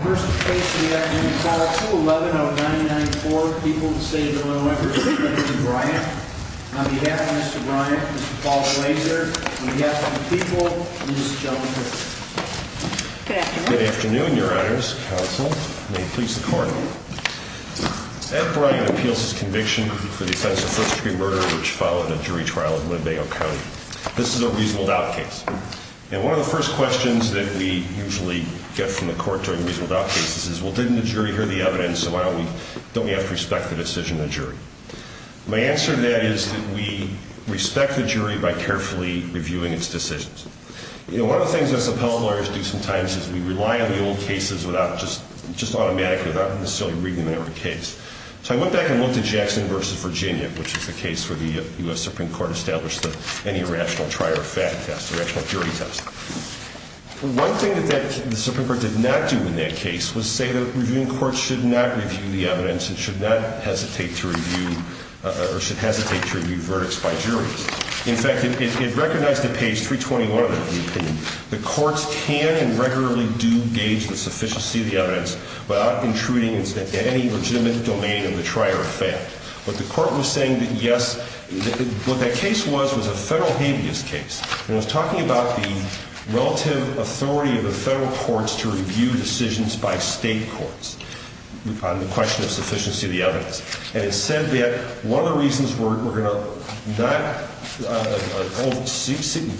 First case of the afternoon, file 2-11-0994, people of the state of Illinois, representing Mr. Bryant. On behalf of Mr. Bryant, Mr. Paul Glazer, on behalf of the people, and this gentleman here. Good afternoon. Good afternoon, your honors, counsel, and may it please the court. Ed Bryant appeals his conviction for the offense of first degree murder, which followed a jury trial in Winnebago County. This is a reasonable doubt case. And one of the first questions that we usually get from the court during reasonable doubt cases is, well, didn't the jury hear the evidence, so why don't we, don't we have to respect the decision of the jury? My answer to that is that we respect the jury by carefully reviewing its decisions. You know, one of the things us appellate lawyers do sometimes is we rely on the old cases without just, just automatically, without necessarily reading them every case. So I went back and looked at Jackson v. Virginia, which is the case where the U.S. Supreme Court established that any rational trier of fact test, the rational jury test. One thing that the Supreme Court did not do in that case was say that reviewing courts should not review the evidence and should not hesitate to review, or should hesitate to review verdicts by juries. In fact, it recognized at page 321 of the opinion that courts can and regularly do gauge the sufficiency of the evidence without intruding into any legitimate domain of the trier of fact. But the court was saying that yes, what that case was was a federal habeas case. And it was talking about the relative authority of the federal courts to review decisions by state courts on the question of sufficiency of the evidence. And it said that one of the reasons we're going to not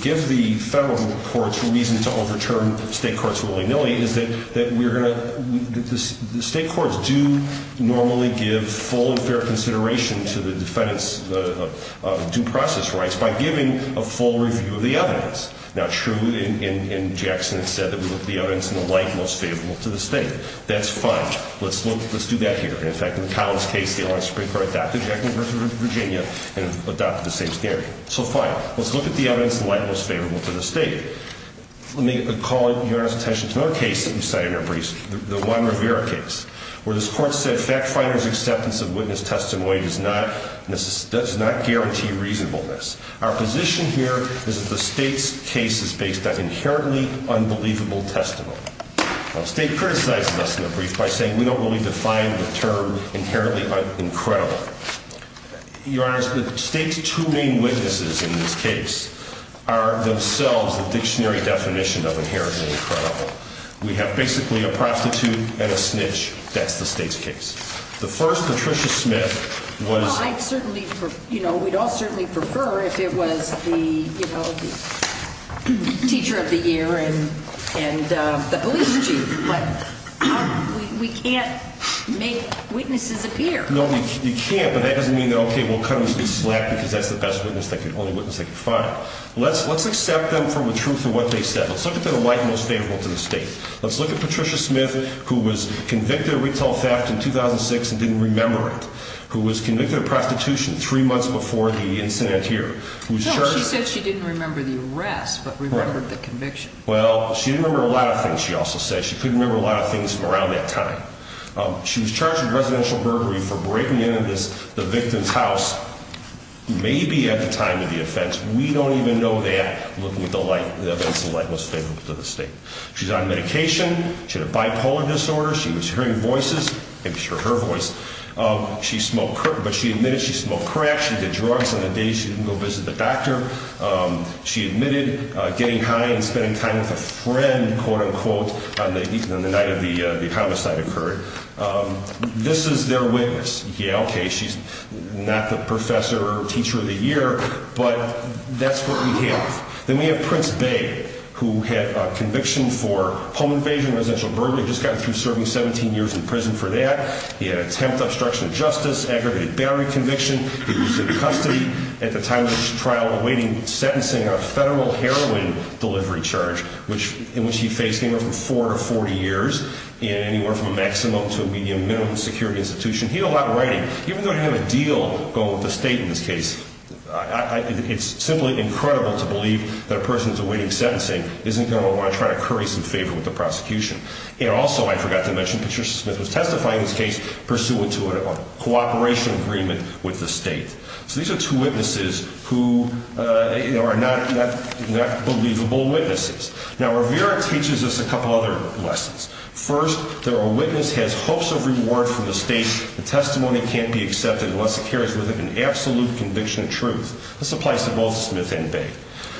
give the federal courts reason to overturn state courts willy-nilly is that the state courts do normally give full and fair consideration to the defendant's due process rights by giving a full review of the evidence. Now, True and Jackson have said that we look at the evidence in the light most favorable to the state. That's fine. Let's do that here. In fact, in Collins' case, the U.S. Supreme Court adopted Jackson v. Virginia and adopted the same theory. So fine. Let's look at the evidence in the light most favorable to the state. Let me call your attention to another case that we cited in our briefs, the Juan Rivera case, where this court said fact finder's acceptance of witness testimony does not guarantee reasonableness. Our position here is that the state's case is based on inherently unbelievable testimony. Now, the state criticized this in the brief by saying we don't really define the term inherently incredible. Your Honor, the state's two main witnesses in this case are themselves the dictionary definition of inherently incredible. We have basically a prostitute and a snitch. That's the state's case. The first, Patricia Smith, was – Well, I'd certainly – you know, we'd all certainly prefer if it was the, you know, the teacher of the year and the police chief. But we can't make witnesses appear. No, you can't, but that doesn't mean that, okay, we'll cut them some slack because that's the best witness, the only witness they can find. Let's accept them for the truth of what they said. Let's look at the light most favorable to the state. Let's look at Patricia Smith, who was convicted of retail theft in 2006 and didn't remember it, who was convicted of prostitution three months before the incident here. No, she said she didn't remember the arrest but remembered the conviction. Well, she didn't remember a lot of things, she also said. She couldn't remember a lot of things from around that time. She was charged with residential burglary for breaking into the victim's house, maybe at the time of the offense. We don't even know that looking at the light, the events of light most favorable to the state. She's on medication. She had a bipolar disorder. She was hearing voices. Maybe it was her voice. She smoked, but she admitted she smoked crack. She did drugs on the day she didn't go visit the doctor. She admitted getting high and spending time with a friend, quote-unquote, on the night of the homicide occurred. This is their witness. Yeah, okay, she's not the professor or teacher of the year, but that's what we have. Then we have Prince Bey, who had a conviction for home invasion, residential burglary. Just got through serving 17 years in prison for that. He had attempt obstruction of justice, aggravated battery conviction. He was in custody at the time of this trial awaiting sentencing on a federal heroin delivery charge, in which he faced anywhere from four to 40 years, and anywhere from a maximum to a medium, minimum security institution. He had a lot of writing. Even though he had a deal going with the state in this case, it's simply incredible to believe that a person who's awaiting sentencing isn't going to want to try to curry some favor with the prosecution. And also, I forgot to mention, Patricia Smith was testifying in this case pursuant to a cooperation agreement with the state. So these are two witnesses who are not believable witnesses. Now, Rivera teaches us a couple other lessons. First, that a witness has hopes of reward from the state. The testimony can't be accepted unless it carries with it an absolute conviction of truth. This applies to both Smith and Bey.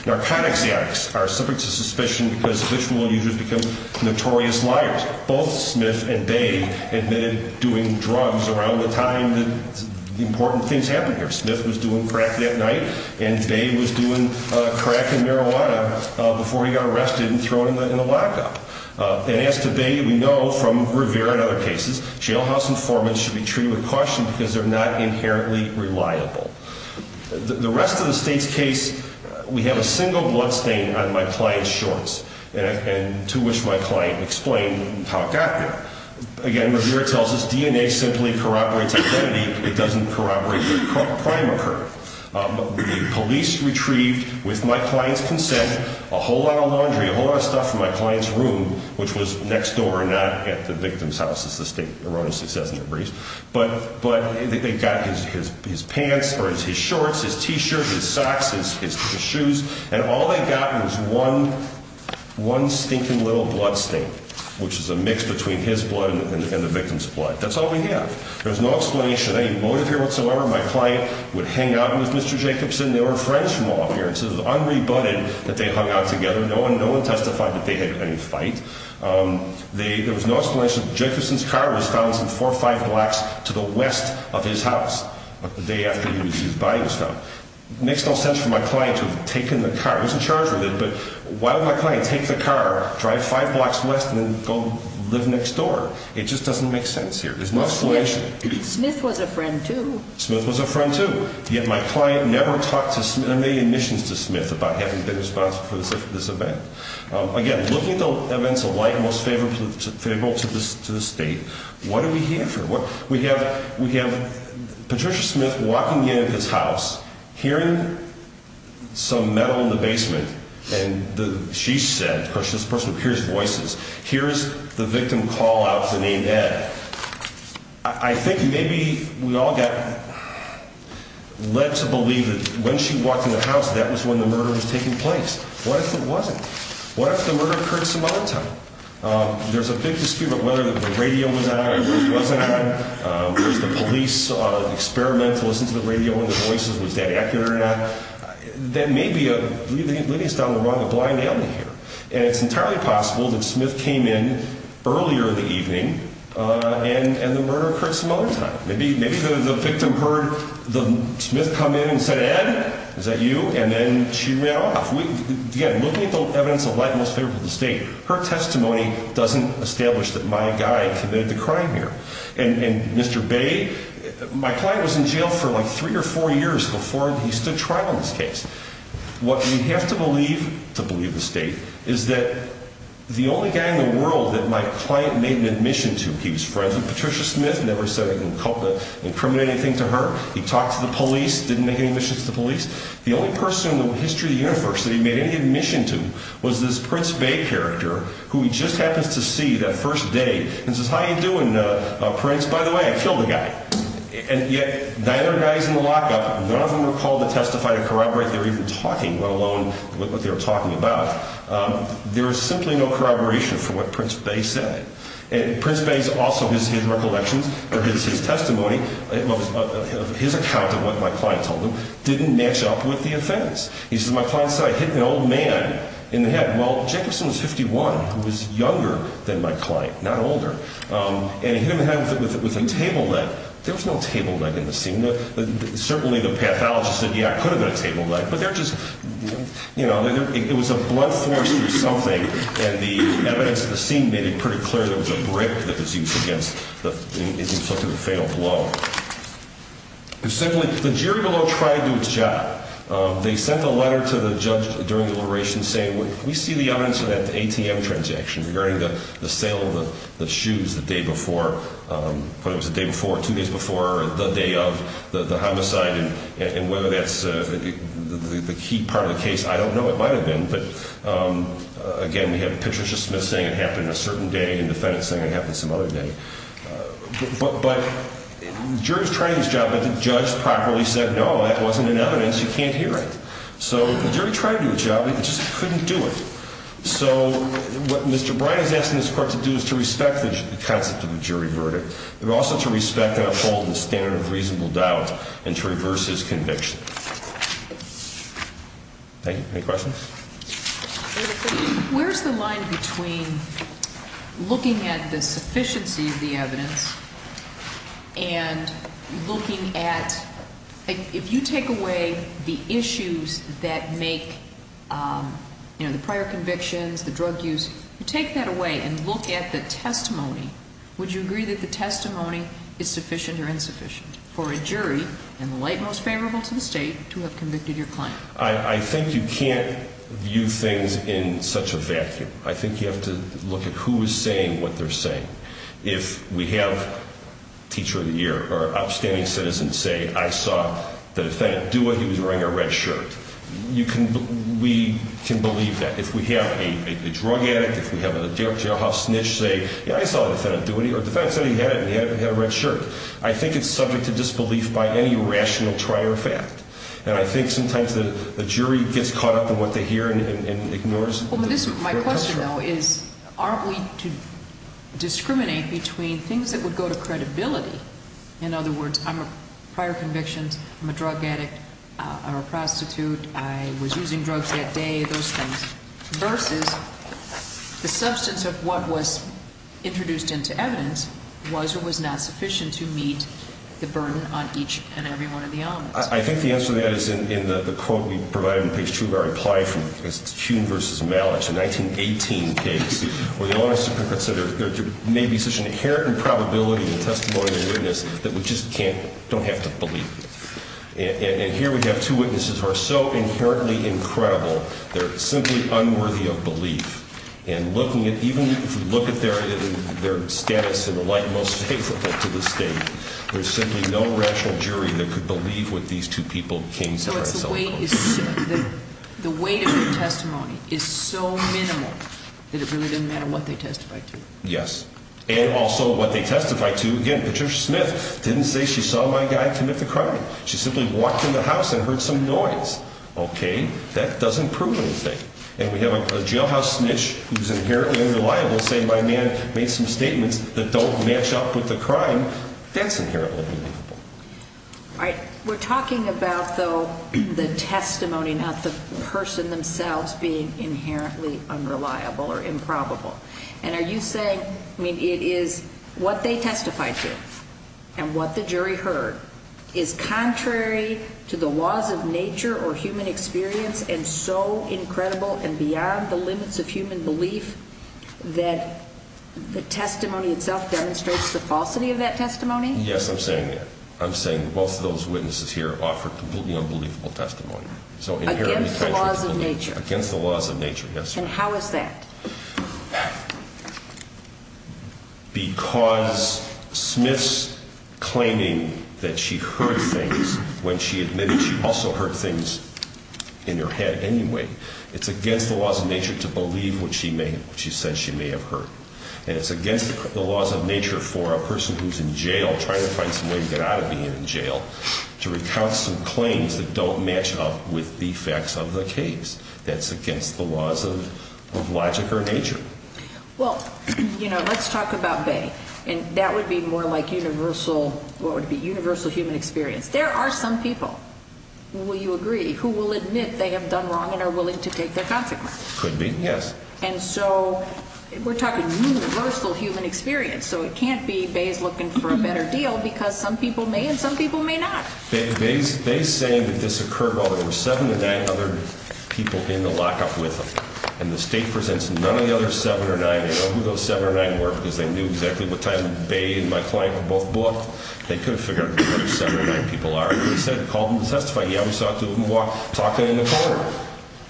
Narcotics addicts are subject to suspicion because visual users become notorious liars. Both Smith and Bey admitted doing drugs around the time that important things happened here. Smith was doing crack that night, and Bey was doing crack and marijuana before he got arrested and thrown in the lockup. And as to Bey, we know from Rivera and other cases, jailhouse informants should be treated with caution because they're not inherently reliable. The rest of the state's case, we have a single bloodstain on my client's shorts, and to which my client explained how it got there. Again, Rivera tells us DNA simply corroborates identity. It doesn't corroborate the crime occurred. The police retrieved, with my client's consent, a whole lot of laundry, a whole lot of stuff from my client's room, which was next door, not at the victim's house, as the state erroneously says in their briefs. But they got his pants, or his shorts, his T-shirt, his socks, his shoes, and all they got was one stinking little bloodstain, which is a mix between his blood and the victim's blood. That's all we have. There's no explanation, any motive here whatsoever. My client would hang out with Mr. Jacobson. They were friends from all appearances. It was unrebutted that they hung out together. No one testified that they had any fight. There was no explanation. Jacobson's car was found some four or five blocks to the west of his house the day after he was used by him. It makes no sense for my client to have taken the car. I wasn't charged with it, but why would my client take the car, drive five blocks west, and then go live next door? It just doesn't make sense here. There's no explanation. Smith was a friend, too. Smith was a friend, too, yet my client never made admissions to Smith about having been responsible for this event. Again, looking at the events of light, most favorable to the state, what do we have here? We have Patricia Smith walking in at his house, hearing some metal in the basement, and she said, of course, this person hears voices, here is the victim call out to name that. I think maybe we all got led to believe that when she walked in the house, that was when the murder was taking place. What if it wasn't? What if the murder occurred some other time? There's a big dispute about whether the radio was on or wasn't on. Was the police experiment to listen to the radio and the voices? Was that accurate or not? That may be leading us down the wrong, a blind alley here. And it's entirely possible that Smith came in earlier in the evening and the murder occurred some other time. Maybe the victim heard Smith come in and said, Ed, is that you? And then she ran off. Again, looking at the evidence of light, most favorable to the state, her testimony doesn't establish that my guy committed the crime here. And Mr. Bay, my client was in jail for like three or four years before he stood trial in this case. What we have to believe, to believe the state, is that the only guy in the world that my client made an admission to, he was friends with Patricia Smith, never said anything incriminating to her. He talked to the police, didn't make any admission to the police. The only person in the history of the universe that he made any admission to was this Prince Bay character who he just happens to see that first day and says, how are you doing, Prince? By the way, I killed the guy. And yet neither guy is in the lockup. None of them were called to testify to corroborate they were even talking, let alone what they were talking about. There is simply no corroboration for what Prince Bay said. And Prince Bay's also his recollections or his testimony, his account of what my client told him, didn't match up with the offense. He says, my client said I hit an old man in the head. Well, Jacobson was 51. He was younger than my client, not older. And he hit him in the head with a table leg. There was no table leg in the scene. Certainly the pathologist said, yeah, it could have been a table leg. But they're just, you know, it was a blunt force through something. And the evidence in the scene made it pretty clear there was a brick that was used against, it inflicted the fatal blow. And secondly, the jury below tried to do its job. They sent a letter to the judge during the liberation saying, we see the odds of that ATM transaction regarding the sale of the shoes the day before, whether it was the day before or two days before the day of the homicide and whether that's the key part of the case. I don't know. It might have been. But, again, we have a picture of Smith saying it happened a certain day and defendants saying it happened some other day. But the jury was trying to do its job, but the judge properly said, no, that wasn't an evidence. You can't hear it. So the jury tried to do its job. It just couldn't do it. So what Mr. Bryan is asking this court to do is to respect the concept of a jury verdict, but also to respect and uphold the standard of reasonable doubt and to reverse his conviction. Thank you. Any questions? Where's the line between looking at the sufficiency of the evidence and looking at, if you take away the issues that make the prior convictions, the drug use, you take that away and look at the testimony, would you agree that the testimony is sufficient or insufficient for a jury, in the light most favorable to the state, to have convicted your client? I think you can't view things in such a vacuum. I think you have to look at who is saying what they're saying. If we have teacher of the year or outstanding citizen say, I saw the defendant do it, he was wearing a red shirt, we can believe that. If we have a drug addict, if we have a jailhouse snitch say, yeah, I saw the defendant do it, or the defendant said he had it and he had a red shirt, I think it's subject to disbelief by any rational trier of fact. And I think sometimes the jury gets caught up in what they hear and ignores. My question, though, is aren't we to discriminate between things that would go to credibility, in other words, I'm a prior conviction, I'm a drug addict, I'm a prostitute, I was using drugs that day, those things, versus the substance of what was introduced into evidence was or was not sufficient to meet the burden on each and every one of the elements. I think the answer to that is in the quote we provided on page two of our reply from Hume v. Malich, a 1918 case, where the onus is to consider there may be such an inherent probability and testimony of awareness that we just can't, don't have to believe it. And here we have two witnesses who are so inherently incredible, they're simply unworthy of belief. And looking at, even if you look at their status in the light most faithful to the state, there's simply no rational jury that could believe what these two people came to try to sell. So it's the weight is, the weight of the testimony is so minimal that it really doesn't matter what they testify to. Yes. And also what they testify to, again, Patricia Smith didn't say she saw my guy commit the crime. She simply walked in the house and heard some noise. Okay, that doesn't prove anything. And we have a jailhouse snitch who's inherently unreliable saying my man made some statements that don't match up with the crime. That's inherently believable. All right. We're talking about, though, the testimony, not the person themselves being inherently unreliable or improbable. And are you saying, I mean, it is what they testified to and what the jury heard is contrary to the laws of nature or human experience and so incredible and beyond the limits of human belief that the testimony itself demonstrates the falsity of that testimony? Yes, I'm saying that. I'm saying both of those witnesses here offered completely unbelievable testimony. Against the laws of nature. Against the laws of nature, yes. And how is that? Because Smith's claiming that she heard things when she admitted she also heard things in her head anyway. It's against the laws of nature to believe what she said she may have heard. And it's against the laws of nature for a person who's in jail, trying to find some way to get out of being in jail, to recount some claims that don't match up with the facts of the case. That's against the laws of logic or nature. Well, you know, let's talk about Bay. And that would be more like universal human experience. There are some people, will you agree, who will admit they have done wrong and are willing to take their consequences. Could be, yes. And so we're talking universal human experience. So it can't be Bay is looking for a better deal because some people may and some people may not. Bay is saying that this occurred while there were seven or nine other people in the lockup with them. And the state presents none of the other seven or nine. They know who those seven or nine were because they knew exactly what time Bay and my client were both brought. They could have figured out who those seven or nine people are. They could have said, called them to testify. Yeah, we saw two of them walk, talking in the corridor.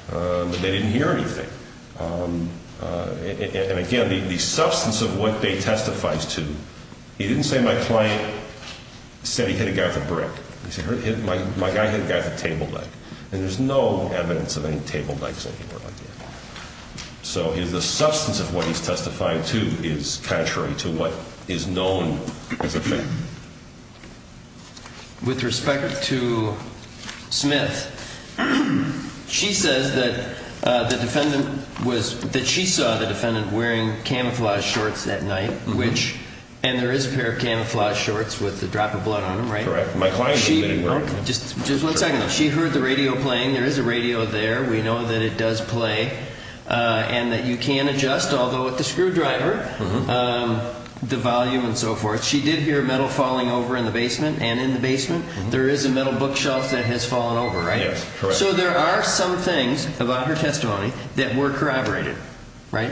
But they didn't hear anything. And, again, the substance of what Bay testifies to, he didn't say my client said he hit a guy with a brick. He said my guy hit a guy with a table leg. And there's no evidence of any table legs anywhere like that. So the substance of what he's testifying to is contrary to what is known as a fact. With respect to Smith, she says that the defendant was, that she saw the defendant wearing camouflage shorts that night, which, and there is a pair of camouflage shorts with a drop of blood on them, right? Correct. My client admitted that. Just one second. She heard the radio playing. There is a radio there. We know that it does play and that you can adjust, although with the screwdriver, the volume and so forth. She did hear metal falling over in the basement. And in the basement, there is a metal bookshelf that has fallen over, right? Yes, correct. So there are some things about her testimony that were corroborated, right?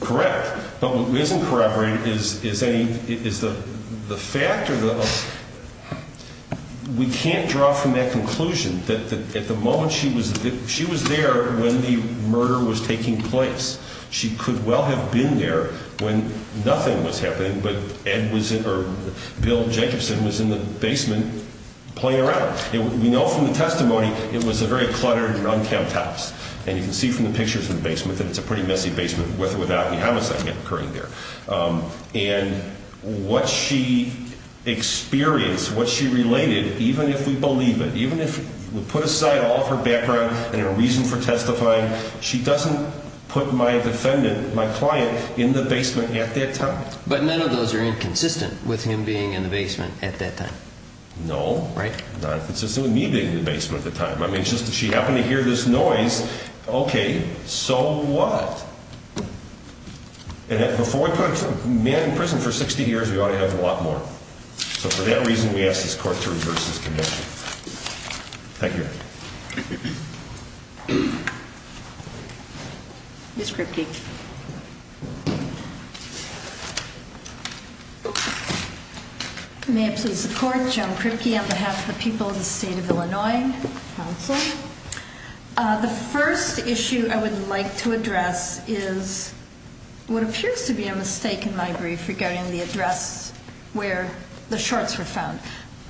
Correct. But what isn't corroborated is the fact or the, we can't draw from that conclusion that at the moment she was there when the murder was taking place, she could well have been there when nothing was happening, but Bill Jacobson was in the basement playing around. We know from the testimony it was a very cluttered and unkempt house. And you can see from the pictures in the basement that it's a pretty messy basement with or without any homicide occurring there. And what she experienced, what she related, even if we believe it, even if we put aside all of her background and her reason for testifying, she doesn't put my defendant, my client, in the basement at that time. But none of those are inconsistent with him being in the basement at that time. No. Right? Not consistent with me being in the basement at the time. I mean, she happened to hear this noise. Okay. So what? And before we put a man in prison for 60 years, we ought to have a lot more. So for that reason, we ask this court to reverse this conviction. Thank you. Ms. Kripke. May I please support? Joan Kripke on behalf of the people of the State of Illinois Council. The first issue I would like to address is what appears to be a mistake in my brief regarding the address where the shorts were found.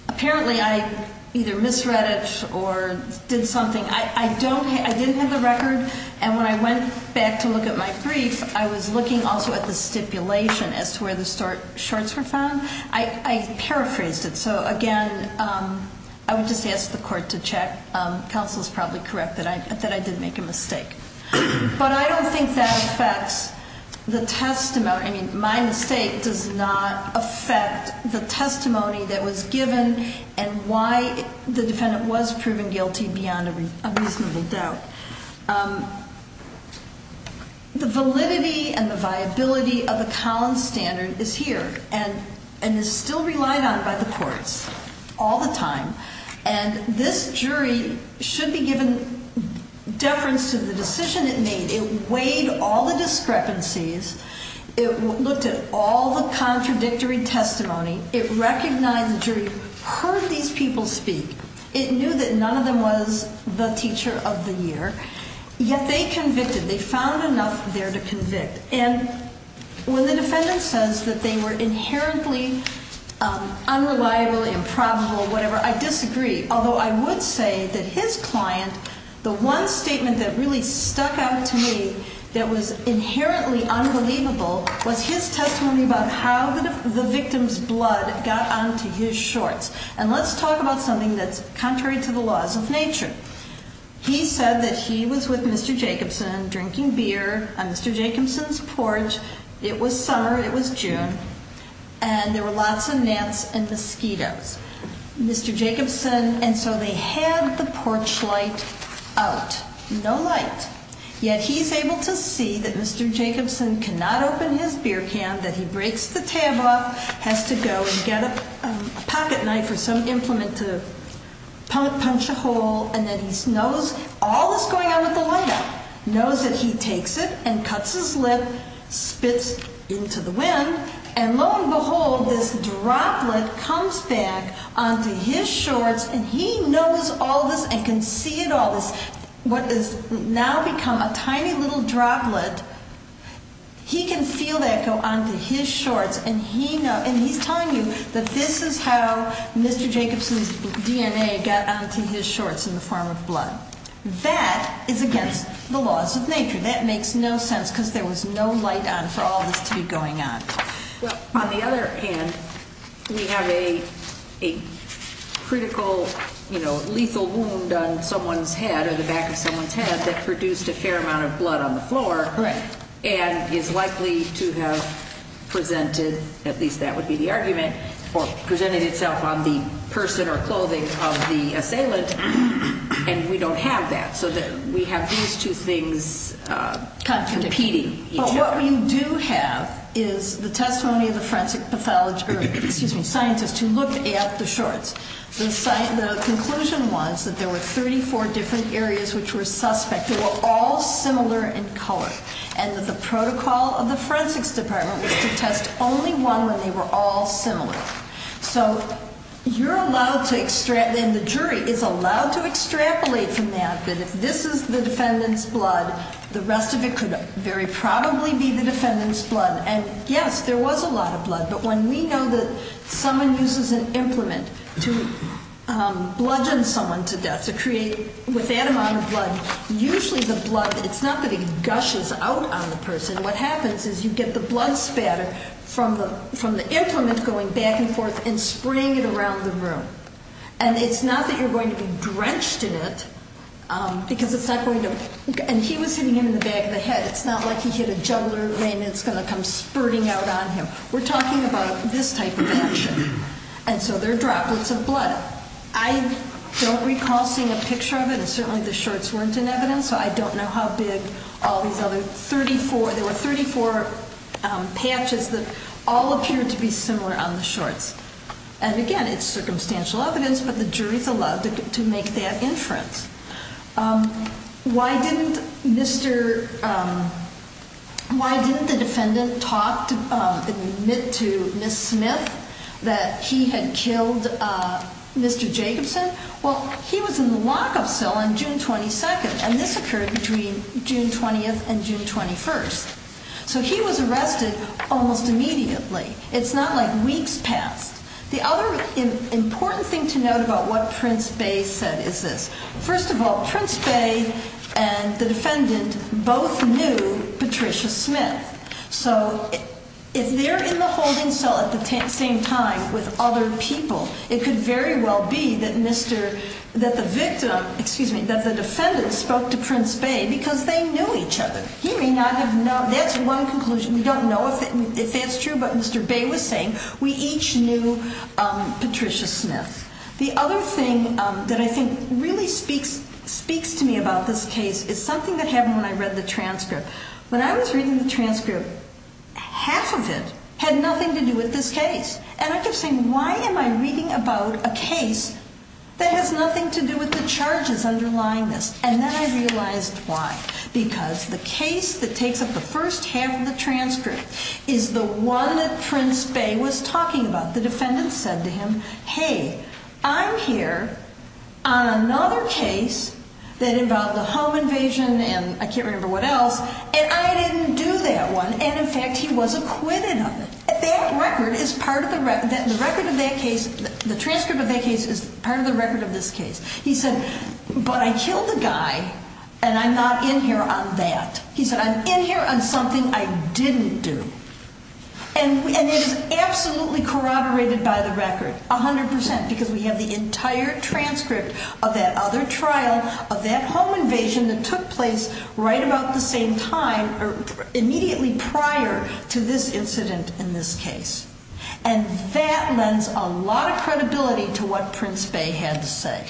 Apparently, I either misread it or did something. I didn't have the record. And when I went back to look at my brief, I was looking also at the stipulation as to where the shorts were found. I paraphrased it. So, again, I would just ask the court to check. Counsel is probably correct that I did make a mistake. But I don't think that affects the testimony. I mean, my mistake does not affect the testimony that was given and why the defendant was proven guilty beyond a reasonable doubt. The validity and the viability of the Collins standard is here and is still relied on by the courts all the time. And this jury should be given deference to the decision it made. It weighed all the discrepancies. It looked at all the contradictory testimony. It recognized the jury, heard these people speak. It knew that none of them was the teacher of the year. Yet they convicted. They found enough there to convict. And when the defendant says that they were inherently unreliable, improbable, whatever, I disagree. Although I would say that his client, the one statement that really stuck out to me that was inherently unbelievable, was his testimony about how the victim's blood got onto his shorts. And let's talk about something that's contrary to the laws of nature. He said that he was with Mr. Jacobson drinking beer on Mr. Jacobson's porch. It was summer. It was June. And there were lots of gnats and mosquitoes. Mr. Jacobson, and so they had the porch light out. No light. Yet he's able to see that Mr. Jacobson cannot open his beer can, that he breaks the tab off, has to go and get a pocket knife or some implement to punch a hole, and that he knows all that's going on with the light. Knows that he takes it and cuts his lip, spits into the wind, and lo and behold, this droplet comes back onto his shorts, and he knows all this and can see it all. What has now become a tiny little droplet, he can feel that go onto his shorts, and he's telling you that this is how Mr. Jacobson's DNA got onto his shorts in the form of blood. That is against the laws of nature. That makes no sense because there was no light on for all this to be going on. Well, on the other hand, we have a critical, you know, lethal wound on someone's head or the back of someone's head that produced a fair amount of blood on the floor and is likely to have presented, at least that would be the argument, or presented itself on the person or clothing of the assailant, and we don't have that, so we have these two things competing each other. But what we do have is the testimony of the forensic pathologist, or excuse me, scientist, who looked at the shorts. The conclusion was that there were 34 different areas which were suspect. They were all similar in color, and that the protocol of the forensics department was to test only one when they were all similar. So you're allowed to extract, and the jury is allowed to extrapolate from that, that if this is the defendant's blood, the rest of it could very probably be the defendant's blood. And yes, there was a lot of blood, but when we know that someone uses an implement to bludgeon someone to death, to create, with that amount of blood, usually the blood, it's not that it gushes out on the person. What happens is you get the blood spatter from the implement going back and forth and spraying it around the room, and it's not that you're going to be drenched in it because it's not going to, and he was hitting him in the back of the head. It's not like he hit a juggler and it's going to come spurting out on him. We're talking about this type of action, and so there are droplets of blood. I don't recall seeing a picture of it, and certainly the shorts weren't in evidence, so I don't know how big all these other 34, there were 34 patches that all appeared to be similar on the shorts. And again, it's circumstantial evidence, but the jury's allowed to make that inference. Why didn't the defendant admit to Ms. Smith that he had killed Mr. Jacobson? Well, he was in the lockup cell on June 22nd, and this occurred between June 20th and June 21st. So he was arrested almost immediately. It's not like weeks passed. The other important thing to note about what Prince Bay said is this. First of all, Prince Bay and the defendant both knew Patricia Smith, so if they're in the holding cell at the same time with other people, it could very well be that the victim, excuse me, that the defendant spoke to Prince Bay because they knew each other. He may not have known. That's one conclusion. We don't know if that's true, but Mr. Bay was saying we each knew Patricia Smith. The other thing that I think really speaks to me about this case is something that happened when I read the transcript. When I was reading the transcript, half of it had nothing to do with this case. And I kept saying, why am I reading about a case that has nothing to do with the charges underlying this? And then I realized why. Because the case that takes up the first half of the transcript is the one that Prince Bay was talking about. The defendant said to him, hey, I'm here on another case that involved a home invasion and I can't remember what else, and I didn't do that one. And, in fact, he was acquitted of it. That record is part of the record of that case. The transcript of that case is part of the record of this case. He said, but I killed a guy and I'm not in here on that. He said, I'm in here on something I didn't do. And it is absolutely corroborated by the record, 100%, because we have the entire transcript of that other trial, of that home invasion that took place right about the same time, or immediately prior to this incident in this case. And that lends a lot of credibility to what Prince Bay had to say.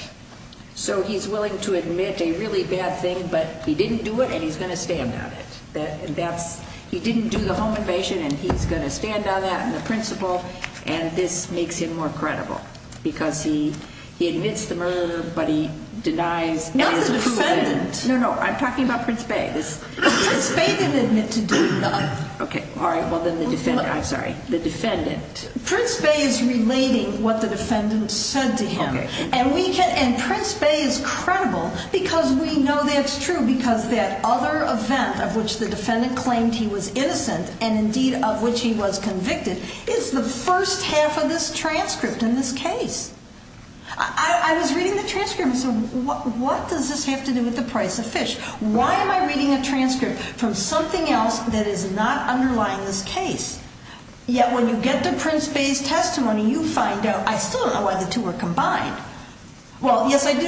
So he's willing to admit a really bad thing, but he didn't do it and he's going to stand on it. He didn't do the home invasion and he's going to stand on that and the principle, and this makes him more credible because he admits the murder, but he denies it. Not the defendant. No, no, I'm talking about Prince Bay. Prince Bay didn't admit to doing nothing. Okay, all right, well then the defendant, I'm sorry, the defendant. Prince Bay is relating what the defendant said to him. And we can, and Prince Bay is credible because we know that's true because that other event of which the defendant claimed he was innocent and indeed of which he was convicted is the first half of this transcript in this case. I was reading the transcript and I said, what does this have to do with the price of fish? Why am I reading a transcript from something else that is not underlying this case? Yet when you get to Prince Bay's testimony, you find out I still don't know why the two were combined. Well, yes, I do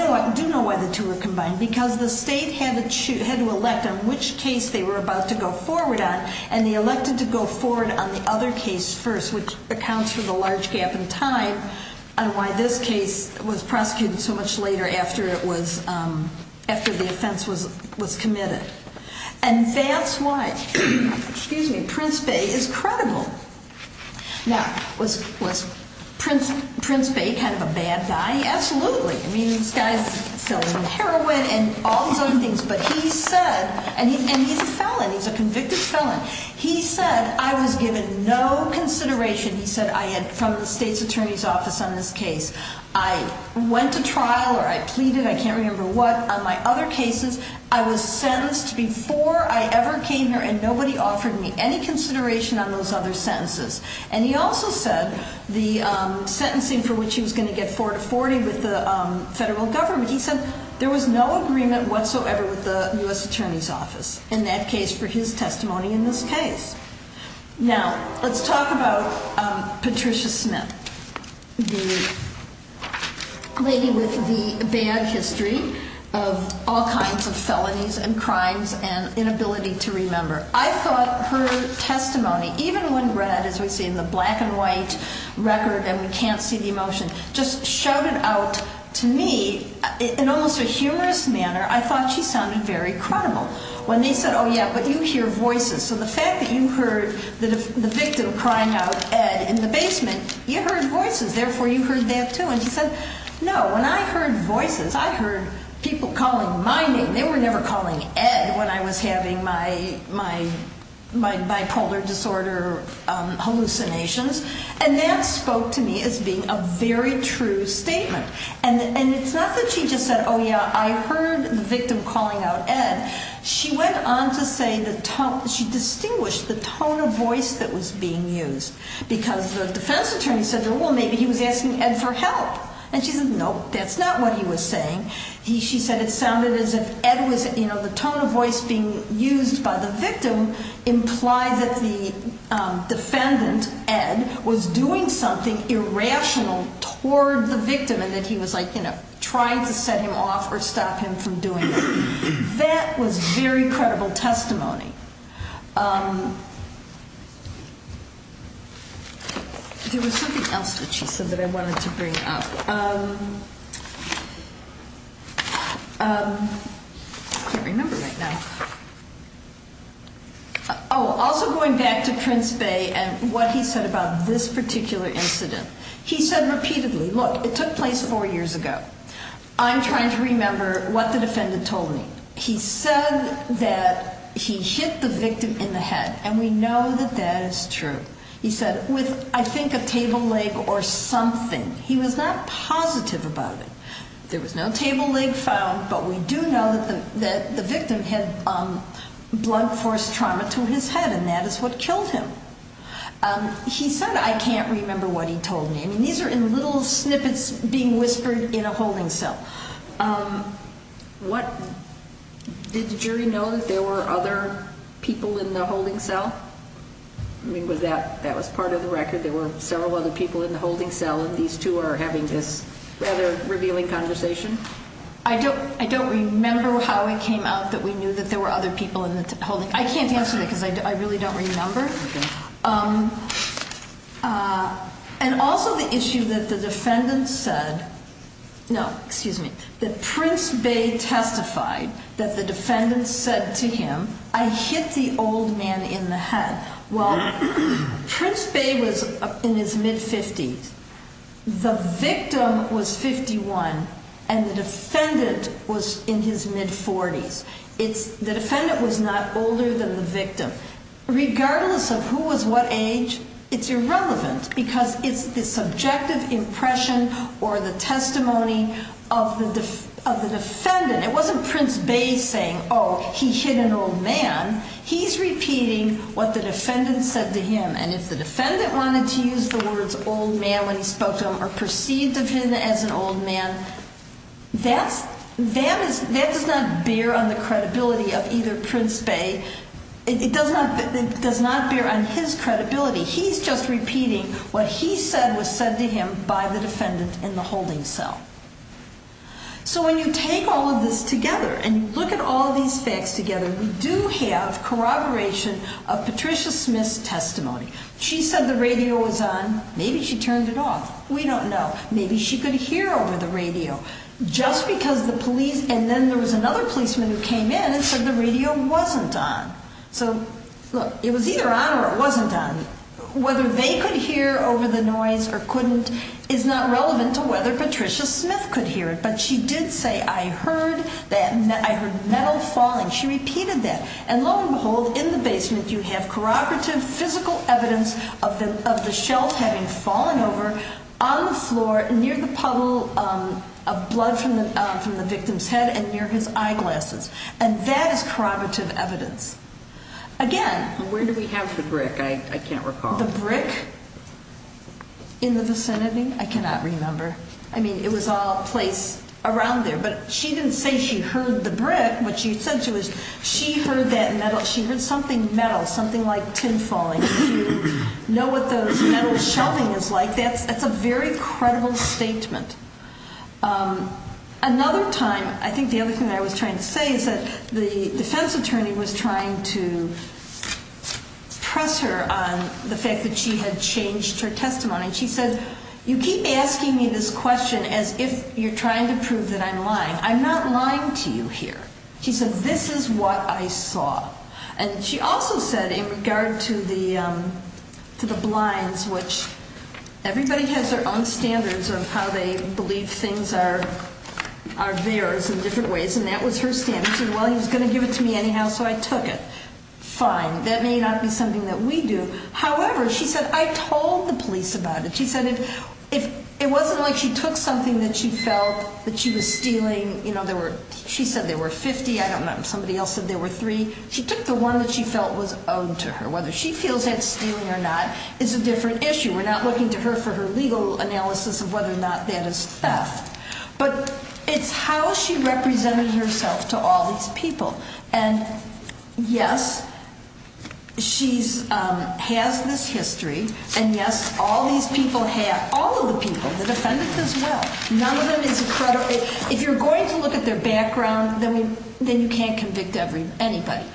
know why the two were combined because the state had to elect on which case they were about to go forward on and they elected to go forward on the other case first, which accounts for the large gap in time on why this case was prosecuted so much later after the offense was committed. And that's why Prince Bay is credible. Now, was Prince Bay kind of a bad guy? Absolutely. I mean, this guy's selling heroin and all these other things. But he said, and he's a felon, he's a convicted felon. He said, I was given no consideration, he said, from the state's attorney's office on this case. I went to trial or I pleaded, I can't remember what, on my other cases. I was sentenced before I ever came here and nobody offered me any consideration on those other sentences. And he also said the sentencing for which he was going to get 4 to 40 with the federal government, he said there was no agreement whatsoever with the U.S. attorney's office in that case for his testimony in this case. Now, let's talk about Patricia Smith, the lady with the bad history of all kinds of felonies and crimes and inability to remember. I thought her testimony, even when read, as we see in the black and white record and we can't see the emotion, just showed it out to me in almost a humorous manner. I thought she sounded very credible. When they said, oh yeah, but you hear voices. So the fact that you heard the victim crying out Ed in the basement, you heard voices. Therefore, you heard that too. And she said, no, when I heard voices, I heard people calling my name. They were never calling Ed when I was having my bipolar disorder hallucinations. And that spoke to me as being a very true statement. And it's not that she just said, oh yeah, I heard the victim calling out Ed. She went on to say that she distinguished the tone of voice that was being used because the defense attorney said, well, maybe he was asking Ed for help. And she said, no, that's not what he was saying. She said it sounded as if Ed was, you know, the tone of voice being used by the victim implied that the defendant, Ed, was doing something irrational toward the victim and that he was like, you know, trying to set him off or stop him from doing it. That was very credible testimony. There was something else that she said that I wanted to bring up. I can't remember right now. Oh, also going back to Prince Bay and what he said about this particular incident. He said repeatedly, look, it took place four years ago. I'm trying to remember what the defendant told me. He said that he hit the victim in the head, and we know that that is true. He said, with I think a table leg or something. He was not positive about it. There was no table leg found, but we do know that the victim had blood force trauma to his head, and that is what killed him. He said, I can't remember what he told me. I mean, these are little snippets being whispered in a holding cell. Did the jury know that there were other people in the holding cell? I mean, that was part of the record. There were several other people in the holding cell, and these two are having this rather revealing conversation. I don't remember how it came out that we knew that there were other people in the holding cell. I can't answer that because I really don't remember. And also the issue that the defendant said, no, excuse me, that Prince Bey testified that the defendant said to him, I hit the old man in the head. Well, Prince Bey was in his mid-50s. The victim was 51, and the defendant was in his mid-40s. The defendant was not older than the victim. Regardless of who was what age, it's irrelevant because it's the subjective impression or the testimony of the defendant. It wasn't Prince Bey saying, oh, he hit an old man. He's repeating what the defendant said to him, and if the defendant wanted to use the words old man when he spoke to him or perceived of him as an old man, that does not bear on the credibility of either Prince Bey. It does not bear on his credibility. He's just repeating what he said was said to him by the defendant in the holding cell. So when you take all of this together and you look at all these facts together, we do have corroboration of Patricia Smith's testimony. She said the radio was on. Maybe she turned it off. We don't know. Maybe she could hear over the radio. And then there was another policeman who came in and said the radio wasn't on. So, look, it was either on or it wasn't on. Whether they could hear over the noise or couldn't is not relevant to whether Patricia Smith could hear it, but she did say, I heard metal falling. She repeated that. And, lo and behold, in the basement you have corroborative physical evidence of the shells having fallen over on the floor near the puddle of blood from the victim's head and near his eyeglasses. And that is corroborative evidence. Again. Where do we have the brick? I can't recall. The brick? In the vicinity? I cannot remember. But she didn't say she heard the brick. What she said to us, she heard that metal. She heard something metal, something like tin falling. She didn't know what the metal shelving is like. That's a very credible statement. Another time, I think the other thing I was trying to say is that the defense attorney was trying to press her on the fact that she had changed her testimony. She said, you keep asking me this question as if you're trying to prove that I'm lying. I'm not lying to you here. She said, this is what I saw. And she also said in regard to the blinds, which everybody has their own standards of how they believe things are theirs in different ways, and that was her stand. She said, well, he was going to give it to me anyhow, so I took it. Fine. That may not be something that we do. However, she said, I told the police about it. She said it wasn't like she took something that she felt that she was stealing. She said there were 50. I don't know. Somebody else said there were three. She took the one that she felt was owed to her. Whether she feels that's stealing or not is a different issue. We're not looking to her for her legal analysis of whether or not that is theft. But it's how she represented herself to all these people. And, yes, she has this history. And, yes, all these people have, all of the people, the defendants as well. None of them is credible. If you're going to look at their background, then you can't convict anybody.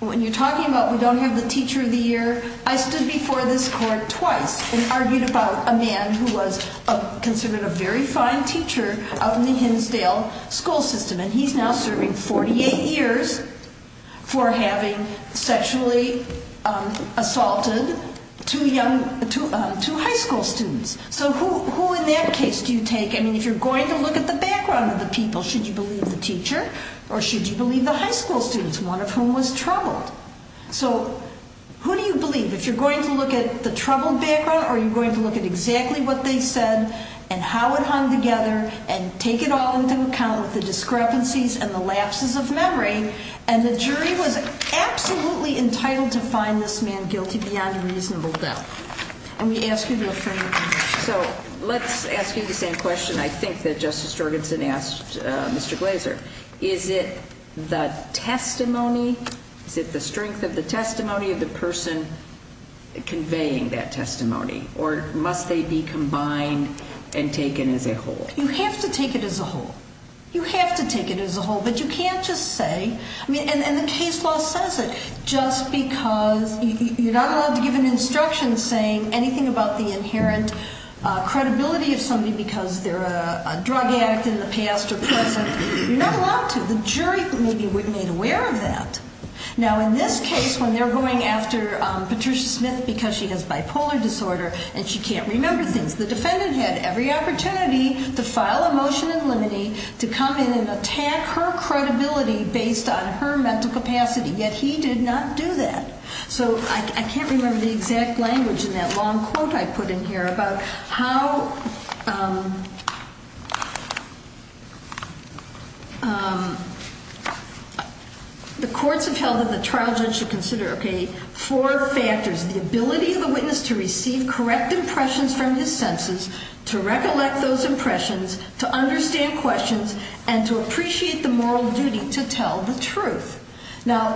When you're talking about we don't have the teacher of the year, I stood before this court twice and argued about a man who was considered a very fine teacher out in the Hinsdale school system. And he's now serving 48 years for having sexually assaulted two high school students. So who in that case do you take? I mean, if you're going to look at the background of the people, should you believe the teacher or should you believe the high school students, one of whom was troubled? So who do you believe? If you're going to look at the troubled background, are you going to look at exactly what they said and how it hung together and take it all into account with the discrepancies and the lapses of memory? And the jury was absolutely entitled to find this man guilty beyond a reasonable doubt. And we ask you to affirm. So let's ask you the same question I think that Justice Jorgenson asked Mr. Glazer. Is it the testimony, is it the strength of the testimony of the person conveying that testimony? Or must they be combined and taken as a whole? You have to take it as a whole. You have to take it as a whole. But you can't just say, I mean, and the case law says it, just because you're not allowed to give an instruction saying anything about the inherent credibility of somebody because they're a drug addict in the past or present. You're not allowed to. The jury may be made aware of that. Now, in this case, when they're going after Patricia Smith because she has bipolar disorder and she can't remember things, the defendant had every opportunity to file a motion in limine to come in and attack her credibility based on her mental capacity. Yet he did not do that. So I can't remember the exact language in that long quote I put in here about how the courts have held that the trial judge should consider four factors. The ability of the witness to receive correct impressions from his senses, to recollect those impressions, to understand questions, and to appreciate the moral duty to tell the truth. Now,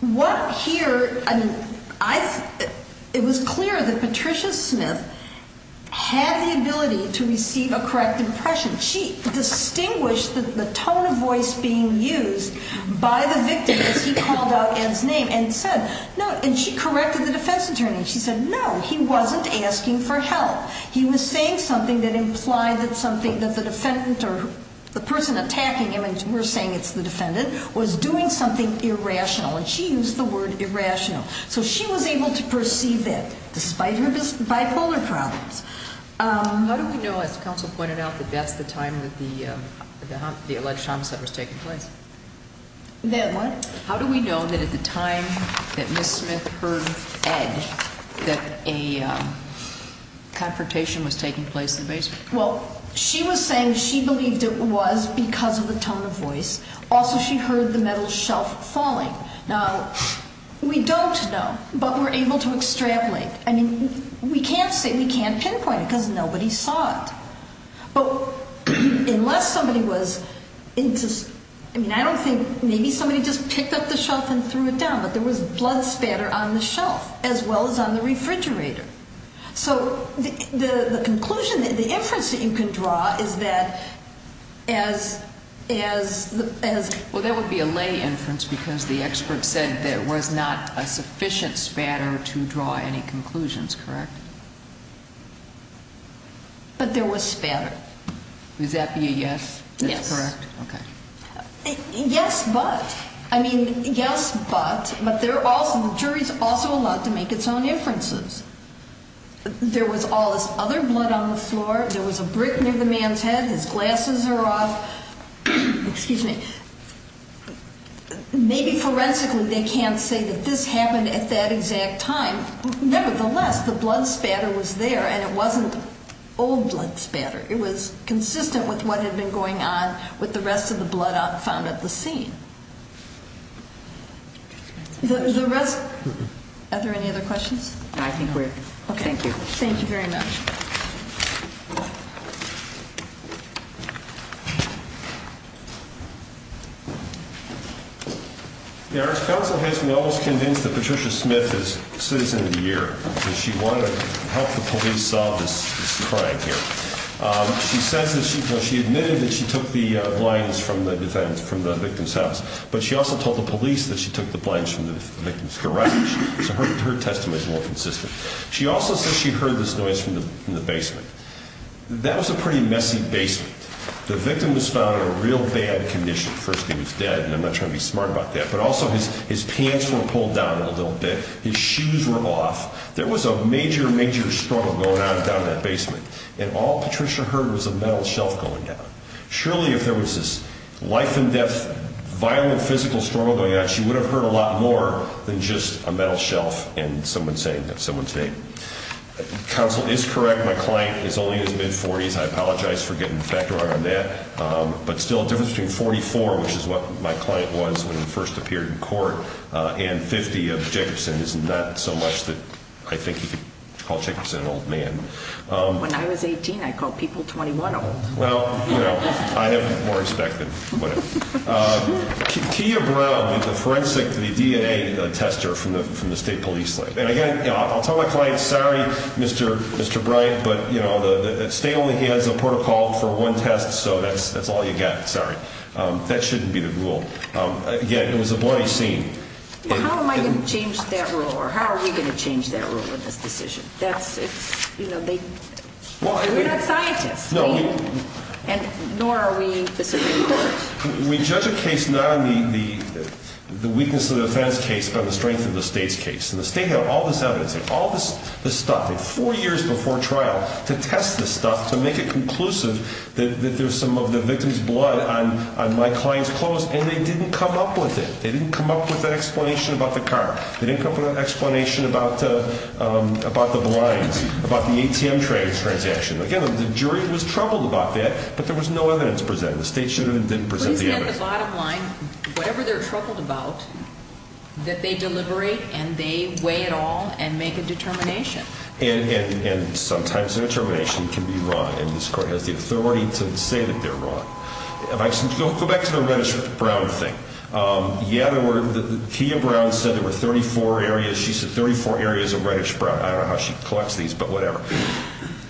what here, I mean, it was clear that Patricia Smith had the ability to receive a correct impression. She distinguished the tone of voice being used by the victim as he called out Ed's name and said, no, and she corrected the defense attorney. She said, no, he wasn't asking for help. He was saying something that implied that something that the defendant or the person attacking him, and we're saying it's the defendant, was doing something irrational. And she used the word irrational. So she was able to perceive that despite her bipolar problems. How do we know, as counsel pointed out, that that's the time that the alleged homicide was taking place? That what? How do we know that at the time that Ms. Smith heard Ed that a confrontation was taking place in the basement? Well, she was saying she believed it was because of the tone of voice. Also, she heard the metal shelf falling. Now, we don't know, but we're able to extrapolate. I mean, we can't say we can't pinpoint it because nobody saw it. But unless somebody was into, I mean, I don't think maybe somebody just picked up the shelf and threw it down, but there was blood spatter on the shelf as well as on the refrigerator. So the conclusion, the inference that you can draw is that as the. Well, that would be a lay inference because the expert said there was not a sufficient spatter to draw any conclusions, correct? But there was spatter. Would that be a yes? Yes. That's correct? Okay. Yes, but. I mean, yes, but. But the jury's also allowed to make its own inferences. There was all this other blood on the floor. There was a brick near the man's head. His glasses are off. Excuse me. Maybe forensically they can't say that this happened at that exact time. Nevertheless, the blood spatter was there, and it wasn't old blood spatter. It was consistent with what had been going on with the rest of the blood found at the scene. The rest. Are there any other questions? I think we're. Okay. Thank you. Thank you very much. The Arts Council has been almost convinced that Patricia Smith is citizen of the year. She wanted to help the police solve this crime here. She says that she admitted that she took the blinds from the victim's house, but she also told the police that she took the blinds from the victim's garage. So her testimony is more consistent. She also says she heard this noise from the basement. That was a pretty messy basement. The victim was found in a real bad condition. First, he was dead, and I'm not trying to be smart about that, but also his pants were pulled down a little bit. His shoes were off. There was a major, major struggle going on down in that basement, and all Patricia heard was a metal shelf going down. Surely if there was this life and death violent physical struggle going on, she would have heard a lot more than just a metal shelf and someone saying someone's name. Counsel is correct. My client is only in his mid-40s. I apologize for getting back and forth on that. But still, a difference between 44, which is what my client was when he first appeared in court, and 50 of Jacobson is not so much that I think you could call Jacobson an old man. When I was 18, I called people 21 old. Well, I have more respect than whatever. Kia Brown, the forensic, the DNA tester from the state police lab. Again, I'll tell my client, sorry, Mr. Bryant, but the state only has a protocol for one test, so that's all you get. Sorry. That shouldn't be the rule. Again, it was a bloody scene. How am I going to change that rule, or how are we going to change that rule in this decision? We're not scientists, nor are we the Supreme Court. We judge a case not on the weakness of the offense case, but on the strength of the state's case. And the state had all this evidence, all this stuff, four years before trial, to test this stuff, to make it conclusive that there's some of the victim's blood on my client's clothes, and they didn't come up with it. They didn't come up with an explanation about the car. They didn't come up with an explanation about the blinds, about the ATM transaction. Again, the jury was troubled about that, but there was no evidence presented. The state shouldn't have presented the evidence. At the bottom line, whatever they're troubled about, that they deliberate and they weigh it all and make a determination. And sometimes a determination can be wrong, and this court has the authority to say that they're wrong. Go back to the Reddish-Brown thing. Kia Brown said there were 34 areas. She said 34 areas of Reddish-Brown. I don't know how she collects these, but whatever.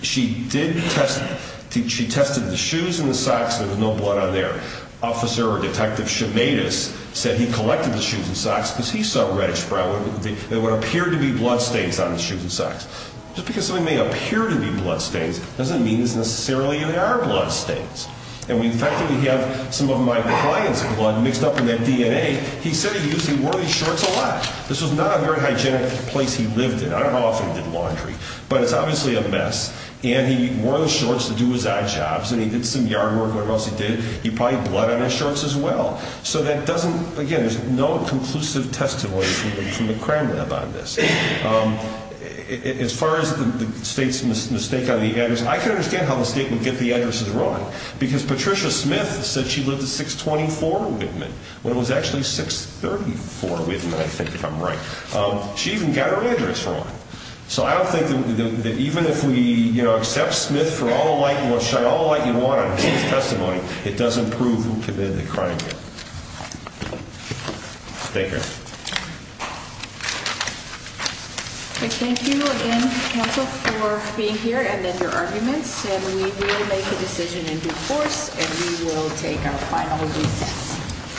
She tested the shoes and the socks, and there was no blood on there. Officer or Detective Chimaitis said he collected the shoes and socks because he saw Reddish-Brown. There would appear to be bloodstains on the shoes and socks. Just because something may appear to be bloodstains doesn't mean it's necessarily there are bloodstains. And the fact that we have some of my client's blood mixed up in that DNA, he said he usually wore these shorts a lot. This was not a very hygienic place he lived in. I don't know how often he did laundry, but it's obviously a mess. And he wore those shorts to do his odd jobs, and he did some yard work, whatever else he did. He probably had blood on his shorts as well. So that doesn't, again, there's no conclusive testimony from the crime lab on this. As far as the state's mistake on the address, I can understand how the state would get the addresses wrong. Because Patricia Smith said she lived at 624 Whitman, when it was actually 634 Whitman, I think, if I'm right. She even got her address wrong. So I don't think that even if we, you know, accept Smith for all the light and want to shine all the light you want on his testimony, it doesn't prove who committed the crime here. Thank you. Thank you again, counsel, for being here and then your arguments. And we will make a decision in due course, and we will take our final recess.